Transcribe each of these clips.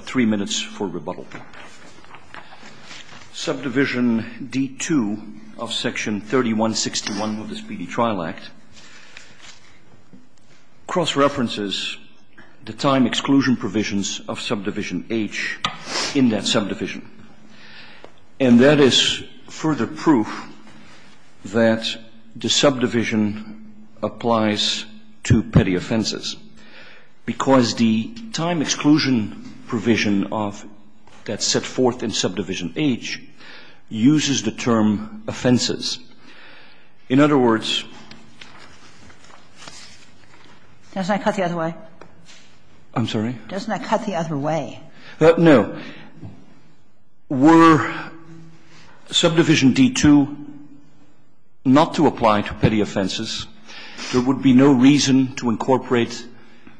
three minutes for rebuttal. Subdivision D2 of section 3161 of the Speedy Trial Act cross references the time exclusion provisions of subdivision H in that subdivision. And that is further proof that the subdivision applies to petty offenses, because the time exclusion provision of that's set forth in subdivision H uses the term offenses. In other words — Doesn't that cut the other way? I'm sorry? Doesn't that cut the other way? No. Were subdivision D2 not to apply to petty offenses, there would be no reason to incorporate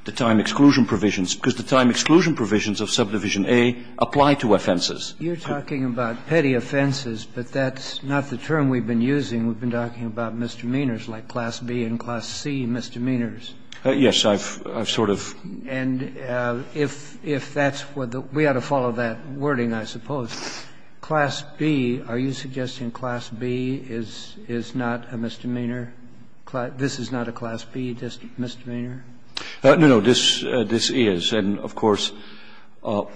the time exclusion provisions, because the time exclusion provisions of subdivision A apply to offenses. You're talking about petty offenses, but that's not the term we've been using. We've been talking about misdemeanors like class B and class C misdemeanors. Yes. I've sort of — And if that's what the — we ought to follow that wording, I suppose. Class B, are you suggesting class B is not a misdemeanor? This is not a class B misdemeanor? No, no. This is. And, of course, all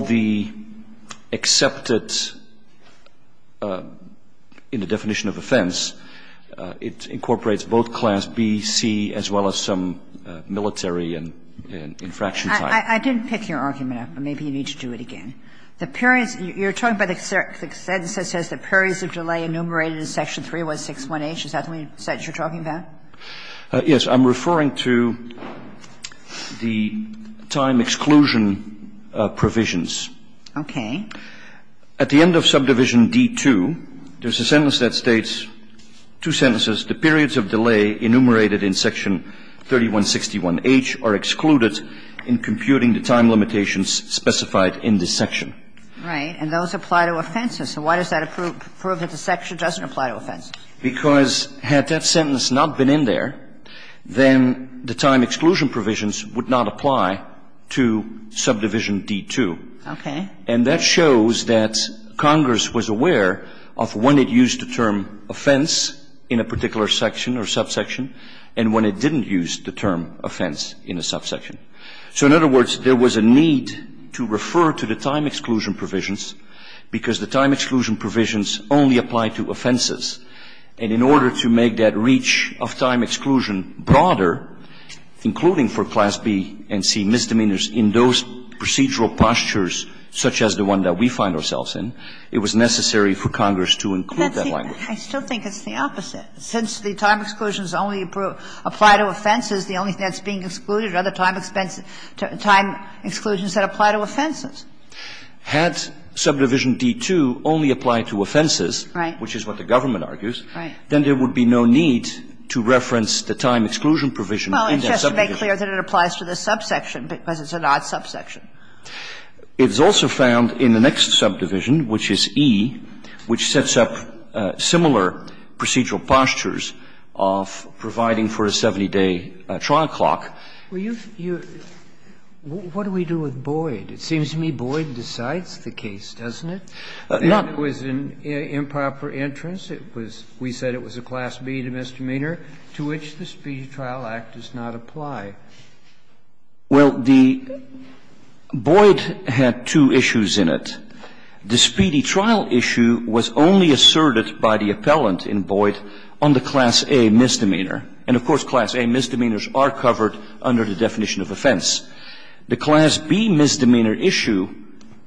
the accepted — in the definition of offense, it incorporates both class B, C, as well as some military and infraction type. I didn't pick your argument up, but maybe you need to do it again. The periods — you're talking about the sentence that says the periods of delay enumerated in section 3161H. Is that what you're talking about? Yes. I'm referring to the time exclusion provisions. Okay. At the end of subdivision D-2, there's a sentence that states, two sentences, the periods of delay enumerated in section 3161H are excluded in computing the time limitations specified in this section. Right. And those apply to offenses. So why does that prove that the section doesn't apply to offenses? Because had that sentence not been in there, then the time exclusion provisions would not apply to subdivision D-2. Okay. And that shows that Congress was aware of when it used the term offense in a particular section or subsection and when it didn't use the term offense in a subsection. So, in other words, there was a need to refer to the time exclusion provisions because the time exclusion provisions only apply to offenses. And in order to make that reach of time exclusion broader, including for class B and C misdemeanors in those procedural postures such as the one that we find ourselves in, it was necessary for Congress to include that language. I still think it's the opposite. Since the time exclusions only apply to offenses, the only thing that's being excluded are the time exclusions that apply to offenses. Had subdivision D-2 only applied to offenses, which is what the government argues, then there would be no need to reference the time exclusion provision in that subdivision. And that's just to make clear that it applies to the subsection, because it's an odd subsection. It's also found in the next subdivision, which is E, which sets up similar procedural postures of providing for a 70-day trial clock. You've, you've, what do we do with Boyd? It seems to me Boyd decides the case, doesn't it? Not. It was an improper entrance. It was, we said it was a Class B misdemeanor, to which the Speedy Trial Act does not apply. Well, the, Boyd had two issues in it. The Speedy Trial issue was only asserted by the appellant in Boyd on the Class A misdemeanor. And of course, Class A misdemeanors are covered under the definition of offense. The Class B misdemeanor issue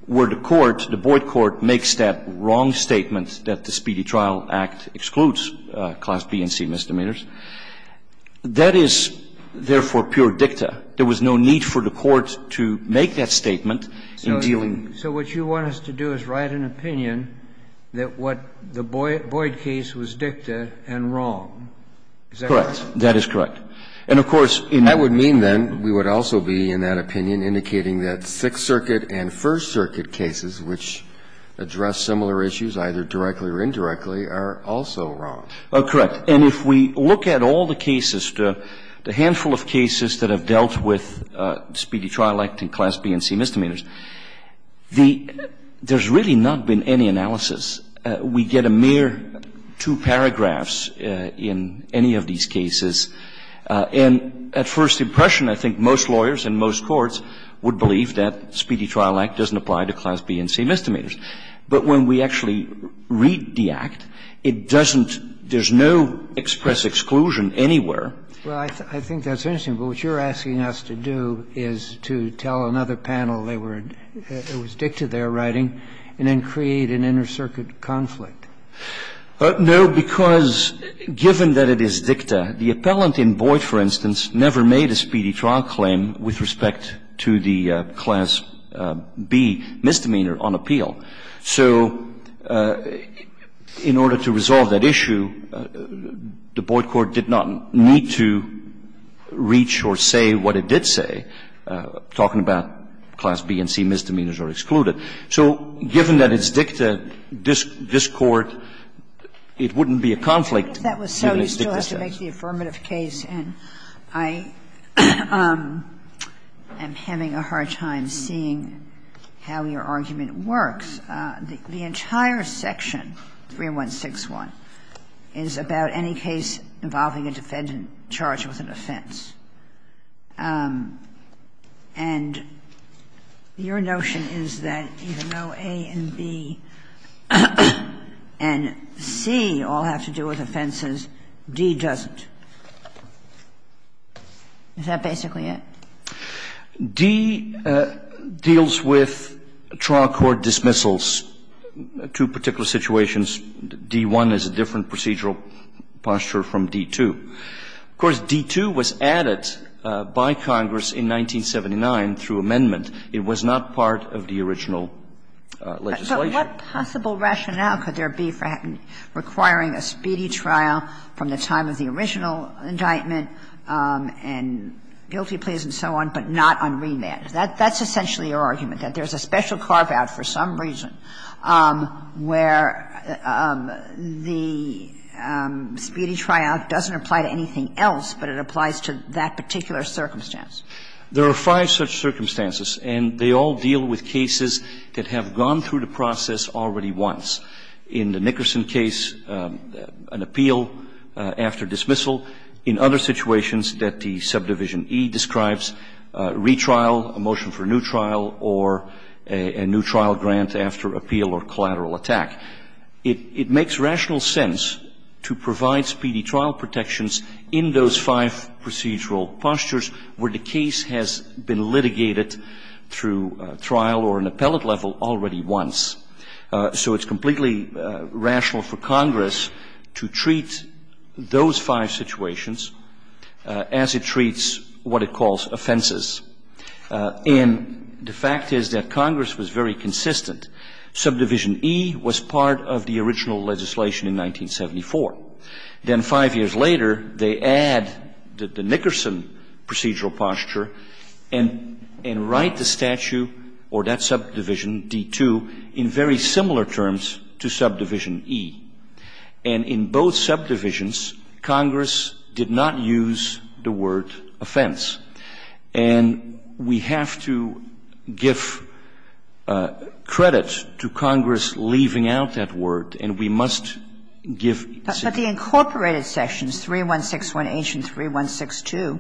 where the court, the Boyd court, makes that wrong statement that the Speedy Trial Act excludes Class B and C misdemeanors, that is, therefore, pure dicta. There was no need for the court to make that statement in dealing. So what you want us to do is write an opinion that what the Boyd case was dicta and wrong. Is that correct? Correct. That is correct. And of course, in that would mean then we would also be, in that opinion, indicating that Sixth Circuit and First Circuit cases which address similar issues, either directly or indirectly, are also wrong. Correct. And if we look at all the cases, the handful of cases that have dealt with Speedy Trial Act and Class B and C misdemeanors, the – there's really not been any analysis. We get a mere two paragraphs in any of these cases. And at first impression, I think most lawyers and most courts would believe that Speedy Trial Act doesn't apply to Class B and C misdemeanors. But when we actually read the Act, it doesn't – there's no express exclusion anywhere. Well, I think that's interesting. But what you're asking us to do is to tell another panel they were – it was dicta they were writing, and then create an inter-circuit conflict. No, because given that it is dicta, the appellant in Boyd, for instance, never made a Speedy Trial claim with respect to the Class B misdemeanor on appeal. So in order to resolve that issue, the Boyd court did not need to reach or say what it did say, talking about Class B and C misdemeanors are excluded. So given that it's dicta, this Court, it wouldn't be a conflict, given it's dicta. If that was so, you still have to make the affirmative case. And I am having a hard time seeing how your argument works. The entire section, 3161, is about any case involving a defendant charged with an offense. And your notion is that even though A and B and C all have to do with offenses, D doesn't. Is that basically it? D deals with trial court dismissals. Two particular situations. D-1 is a different procedural posture from D-2. Of course, D-2 was added by Congress in 1979 through amendment. It was not part of the original legislation. But what possible rationale could there be for requiring a Speedy Trial from the time of the original indictment and guilty pleas and so on, but not on remand? That's essentially your argument, that there's a special carve-out for some reason where the Speedy Trial doesn't apply to anything else, but it applies to that particular circumstance. There are five such circumstances, and they all deal with cases that have gone through the process already once. In the Nickerson case, an appeal after dismissal. In other situations that the subdivision E describes, retrial, a motion for a new trial, or a new trial grant after appeal or collateral attack. It makes rational sense to provide Speedy Trial protections in those five procedural postures where the case has been litigated through trial or an appellate level already once. So it's completely rational for Congress to treat those five situations as it treats what it calls offenses. And the fact is that Congress was very consistent. Subdivision E was part of the original legislation in 1974. Then five years later, they add the Nickerson procedural posture and write the statute or that subdivision, D2, in very similar terms to subdivision E. And in both subdivisions, Congress did not use the word offense. And we have to give credit to Congress leaving out that word, and we must give the same. But the incorporated sections, 3161H and 3162,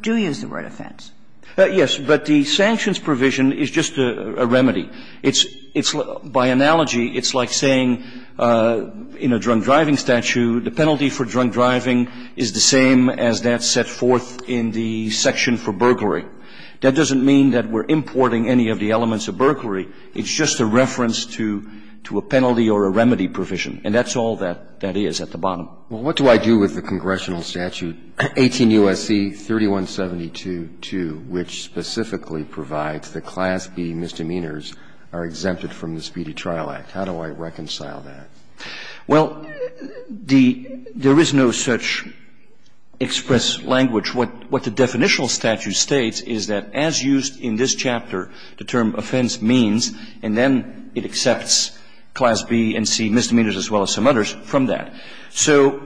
do use the word offense. Yes. But the sanctions provision is just a remedy. It's by analogy, it's like saying in a drunk driving statute, the penalty for drunk driving is a reduction for burglary. That doesn't mean that we're importing any of the elements of burglary. It's just a reference to a penalty or a remedy provision. And that's all that is at the bottom. Well, what do I do with the congressional statute 18 U.S.C. 3172-2, which specifically provides that Class B misdemeanors are exempted from the Speedy Trial Act? How do I reconcile that? Well, the — there is no such express language. What the definitional statute states is that as used in this chapter, the term offense means, and then it accepts Class B and C misdemeanors as well as some others from that. So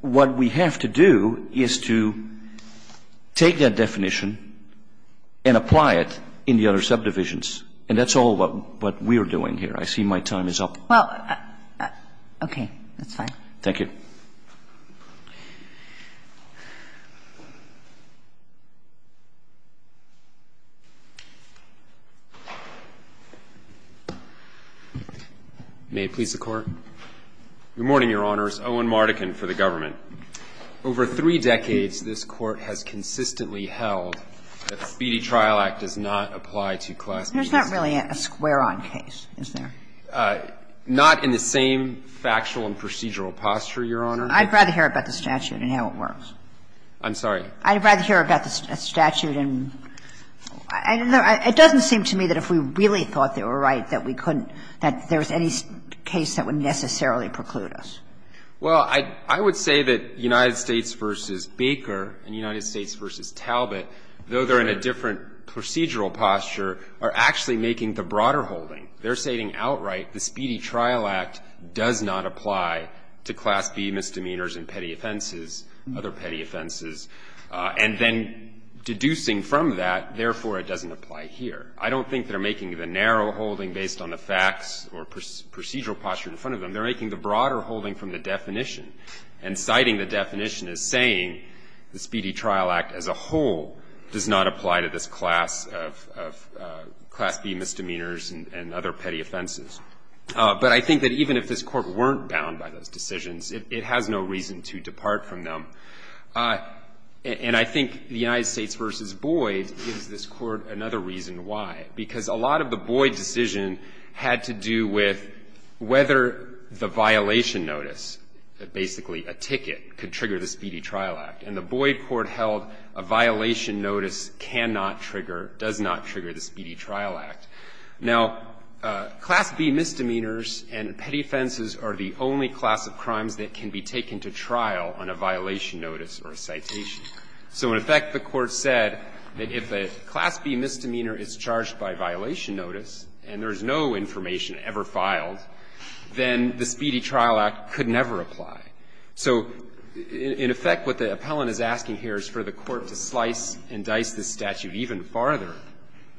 what we have to do is to take that definition and apply it in the other subdivisions. And that's all what we're doing here. I see my time is up. Well, okay. That's fine. Thank you. May it please the Court. Good morning, Your Honors. Owen Mardikin for the government. Over three decades, this Court has consistently held that the Speedy Trial Act does not apply to Class B misdemeanor. There's not really a square-on case, is there? Not in the same factual and procedural posture, Your Honor. I'd rather hear about the statute and how it works. I'm sorry? I'd rather hear about the statute and — it doesn't seem to me that if we really thought they were right that we couldn't — that there was any case that would necessarily preclude us. Well, I would say that United States v. Baker and United States v. Talbot, though they're in a different procedural posture, are actually making the broader holding. They're stating outright the Speedy Trial Act does not apply to Class B misdemeanors and petty offenses, other petty offenses, and then deducing from that, therefore, it doesn't apply here. I don't think they're making the narrow holding based on the facts or procedural posture in front of them. They're making the broader holding from the definition and citing the definition as saying the Speedy Trial Act as a whole does not apply to this class of Class B misdemeanors and other petty offenses. But I think that even if this Court weren't bound by those decisions, it has no reason to depart from them. And I think the United States v. Boyd gives this Court another reason why, because a lot of the Boyd decision had to do with whether the violation notice, basically a ticket, could trigger the Speedy Trial Act. And the Boyd court held a violation notice cannot trigger, does not trigger the Speedy Trial Act. Now, Class B misdemeanors and petty offenses are the only class of crimes that can be taken to trial on a violation notice or a citation. So in effect, the Court said that if a Class B misdemeanor is charged by violation notice and there is no information ever filed, then the Speedy Trial Act could never apply. So in effect, what the appellant is asking here is for the Court to slice and dice this statute even farther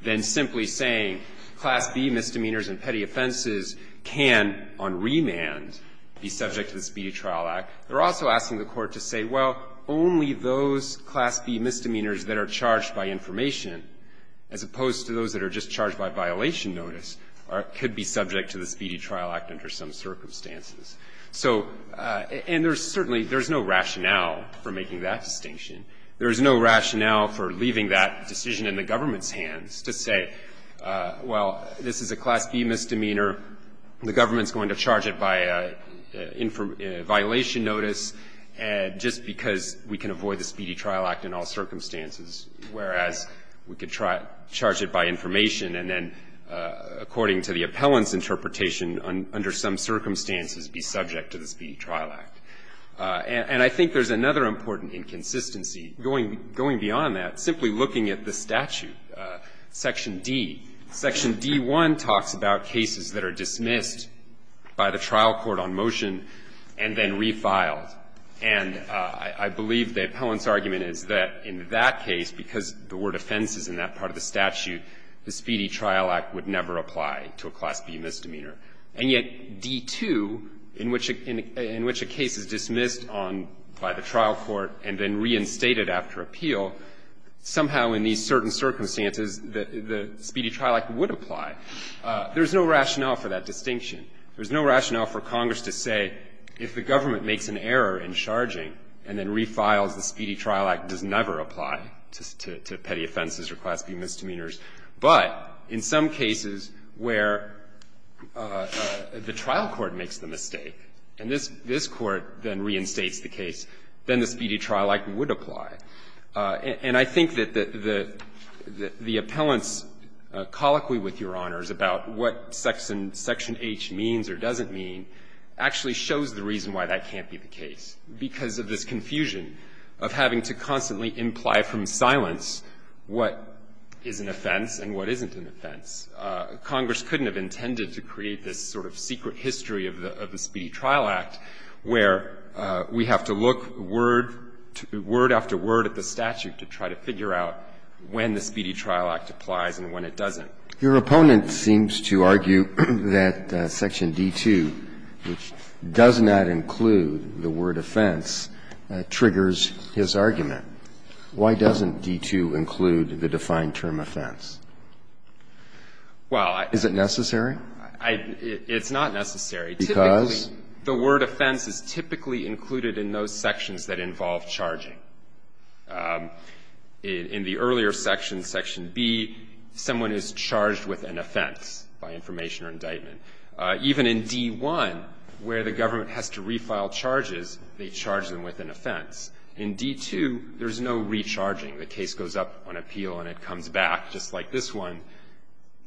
than simply saying Class B misdemeanors and petty offenses can, on remand, be subject to the Speedy Trial Act. They're also asking the Court to say, well, only those Class B misdemeanors that are charged by information, as opposed to those that are just charged by violation notice, could be subject to the Speedy Trial Act under some circumstances. So and there's certainly, there's no rationale for making that distinction. There is no rationale for leaving that decision in the government's hands to say, well, this is a Class B misdemeanor, the government's going to charge it by a violation notice, just because we can avoid the Speedy Trial Act in all circumstances, whereas we could charge it by information and then, according to the appellant's interpretation, under some circumstances, be subject to the Speedy Trial Act. And I think there's another important inconsistency going beyond that, simply looking at the statute, Section D. Section D-1 talks about cases that are dismissed by the trial court on motion and then refiled. And I believe the appellant's argument is that in that case, because there were defenses in that part of the statute, the Speedy Trial Act would never apply to a Class B misdemeanor. And yet D-2, in which a case is dismissed on, by the trial court and then reinstated after appeal, somehow in these certain circumstances, the Speedy Trial Act would apply. There's no rationale for that distinction. There's no rationale for Congress to say, if the government makes an error in charging and then refiles, the Speedy Trial Act does never apply to petty offenses or Class B misdemeanors. But in some cases where the trial court makes the mistake and this court then reinstates the case, then the Speedy Trial Act would apply. And I think that the appellant's colloquy with Your Honors about what Section H means or doesn't mean actually shows the reason why that can't be the case, because of this confusion of having to constantly imply from silence what is an offense and what isn't an offense. Congress couldn't have intended to create this sort of secret history of the Speedy Trial Act where we have to look word after word at the statute to try to figure out when the Speedy Trial Act applies and when it doesn't. Your opponent seems to argue that Section D-2, which does not include the word offense, triggers his argument. Why doesn't D-2 include the defined term offense? Well, I don't know. Is it necessary? It's not necessary. Because? The word offense is typically included in those sections that involve charging. In the earlier section, Section B, someone is charged with an offense by information or indictment. Even in D-1, where the government has to refile charges, they charge them with an offense. In D-2, there's no recharging. The case goes up on appeal and it comes back, just like this one.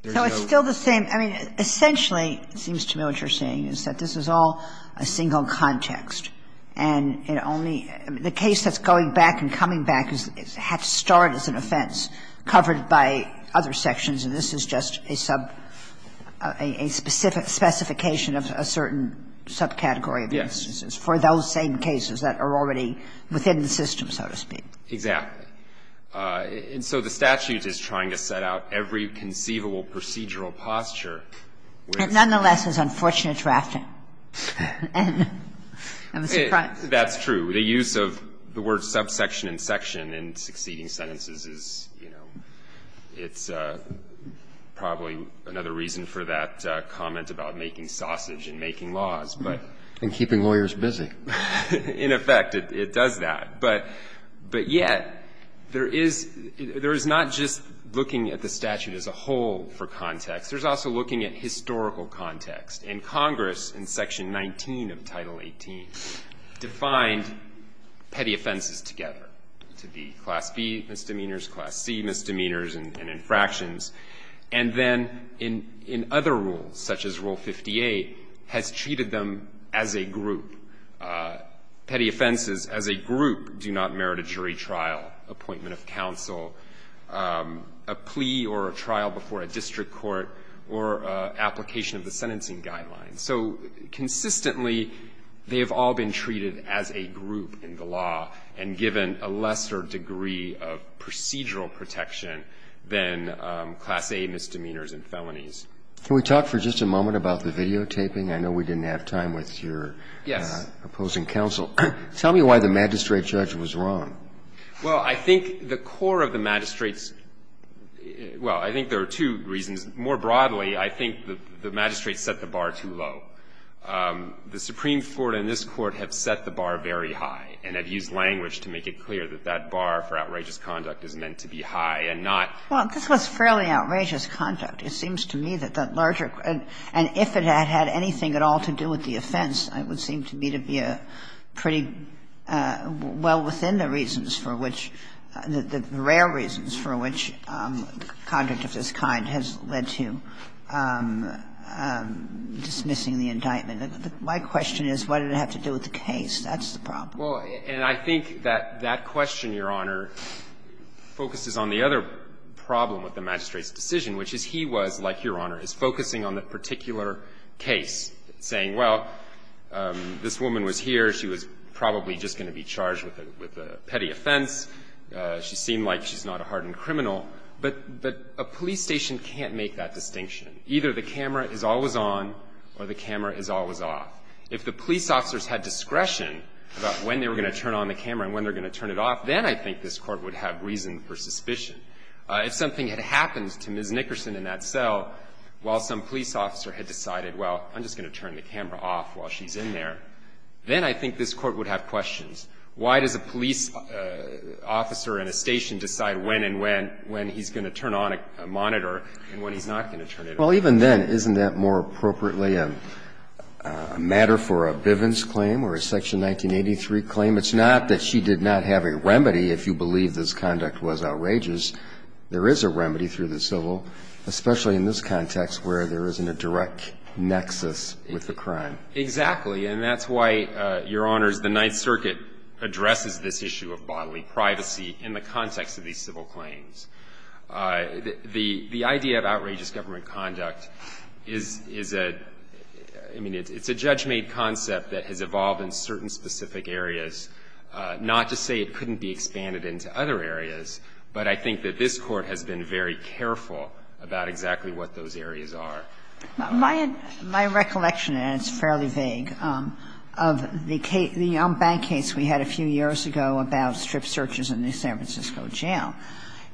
There's no recharging. So it's still the same. I mean, essentially, it seems to me what you're saying is that this is all a single context, and it only – the case that's going back and coming back had to start as an offense covered by other sections, and this is just a sub – a specific specification of a certain subcategory of instances for those same cases that are already within the system, so to speak. Exactly. And so the statute is trying to set out every conceivable procedural posture with – It nonetheless is unfortunate drafting. I'm surprised. That's true. The use of the word subsection and section in succeeding sentences is, you know, it's probably another reason for that comment about making sausage and making laws. And keeping lawyers busy. In effect, it does that. But yet, there is – there is not just looking at the statute as a whole for context. There's also looking at historical context. And Congress, in Section 19 of Title 18, defined petty offenses together to be Class B misdemeanors, Class C misdemeanors and infractions. And then in other rules, such as Rule 58, has treated them as a group. Petty offenses as a group do not merit a jury trial, appointment of counsel, a plea or a trial before a district court, or application of the sentencing guidelines. So consistently, they have all been treated as a group in the law and given a lesser degree of procedural protection than Class A misdemeanors and felonies. Can we talk for just a moment about the videotaping? I know we didn't have time with your opposing counsel. Yes. Tell me why the magistrate judge was wrong. Well, I think the core of the magistrates – well, I think there are two reasons. More broadly, I think the magistrates set the bar too low. The Supreme Court and this Court have set the bar very high and have used language to make it clear that that bar for outrageous conduct is meant to be high and not Well, this was fairly outrageous conduct. It seems to me that that larger – and if it had had anything at all to do with the offense, it would seem to me to be a pretty well within the reasons for which – the rare reasons for which conduct of this kind has led to dismissing the indictment. My question is, what did it have to do with the case? That's the problem. And I think that that question, Your Honor, focuses on the other problem with the magistrate's decision, which is he was, like Your Honor, is focusing on the particular case, saying, well, this woman was here. She was probably just going to be charged with a petty offense. She seemed like she's not a hardened criminal. But a police station can't make that distinction. Either the camera is always on or the camera is always off. If the police officers had discretion about when they were going to turn on the camera and when they were going to turn it off, then I think this Court would have reason for suspicion. If something had happened to Ms. Nickerson in that cell while some police officer had decided, well, I'm just going to turn the camera off while she's in there, then I think this Court would have questions. Why does a police officer in a station decide when and when he's going to turn on a monitor and when he's not going to turn it off? Well, even then, isn't that more appropriately a matter for a Bivens claim or a Section 1983 claim? It's not that she did not have a remedy if you believe this conduct was outrageous. There is a remedy through the civil, especially in this context where there isn't a direct nexus with the crime. Exactly. And that's why, Your Honors, the Ninth Circuit addresses this issue of bodily privacy in the context of these civil claims. The idea of outrageous government conduct is a – I mean, it's a judge-made concept that has evolved in certain specific areas, not to say it couldn't be expanded into other areas, but I think that this Court has been very careful about exactly what those areas are. My recollection, and it's fairly vague, of the young bank case we had a few years ago about strip searches in the San Francisco jail,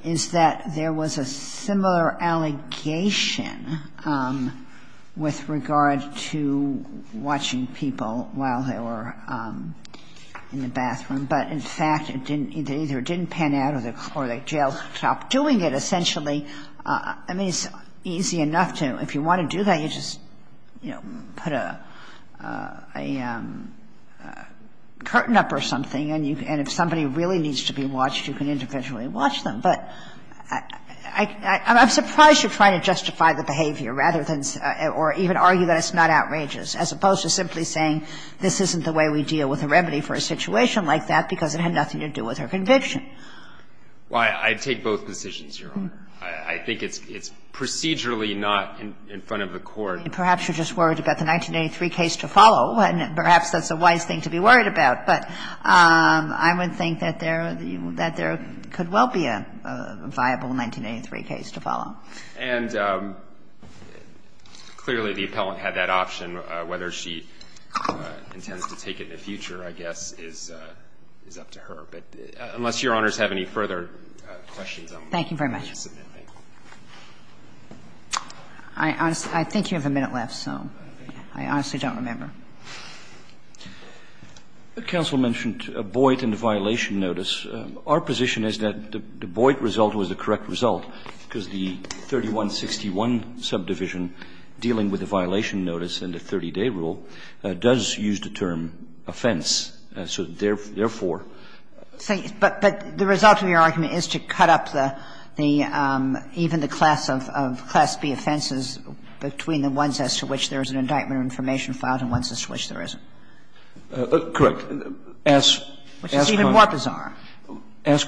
is that there was a similar allegation with regard to watching people while they were in the bathroom. But, in fact, it didn't – either it didn't pan out or the jail stopped doing it, essentially. I mean, it's easy enough to – if you want to do that, you just, you know, put a curtain up or something, and if somebody really needs to be watched, you can individually watch them. But I'm surprised you're trying to justify the behavior rather than – or even argue that it's not outrageous, as opposed to simply saying this isn't the way we deal with a remedy for a situation like that because it had nothing to do with her conviction. Well, I take both decisions, Your Honor. I think it's procedurally not in front of the Court. Perhaps you're just worried about the 1983 case to follow, and perhaps that's a wise thing to be worried about. But I would think that there – that there could well be a viable 1983 case to follow. And clearly, the appellant had that option. Whether she intends to take it in the future, I guess, is up to her. But unless Your Honors have any further questions, I'm going to submit them. Thank you very much. I honestly – I think you have a minute left, so I honestly don't remember. Counsel mentioned Boyd and the violation notice. Our position is that the Boyd result was the correct result because the 3161 subdivision dealing with the violation notice and the 30-day rule does use the term offense. So therefore – But the result of your argument is to cut up the – even the class of – of class B offenses between the ones as to which there is an indictment of information filed and ones as to which there isn't. Correct. As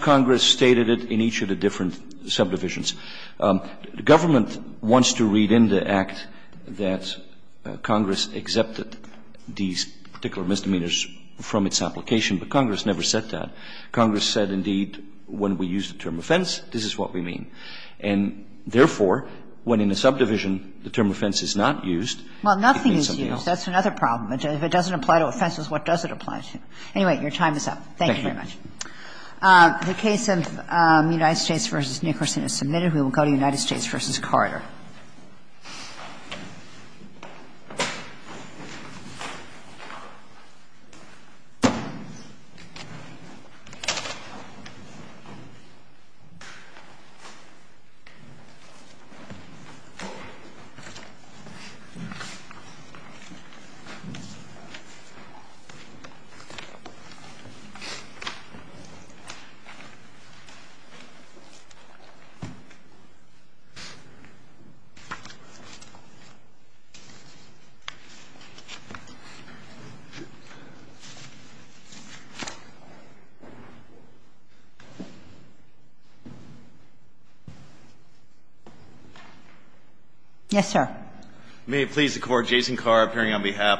Congress stated it in each of the different subdivisions, government wants to read in the Act that Congress accepted these particular misdemeanors from its application, but Congress never said that. Congress said, indeed, when we use the term offense, this is what we mean. And therefore, when in a subdivision the term offense is not used, it means something else. Well, nothing is used. That's another problem. If it doesn't apply to offenses, what does it apply to? Anyway, your time is up. Thank you very much. Thank you. The case of United States v. Nickerson is submitted. We will go to United States v. Carter. Yes, sir? May it please the Court, Jason Carr appearing on behalf of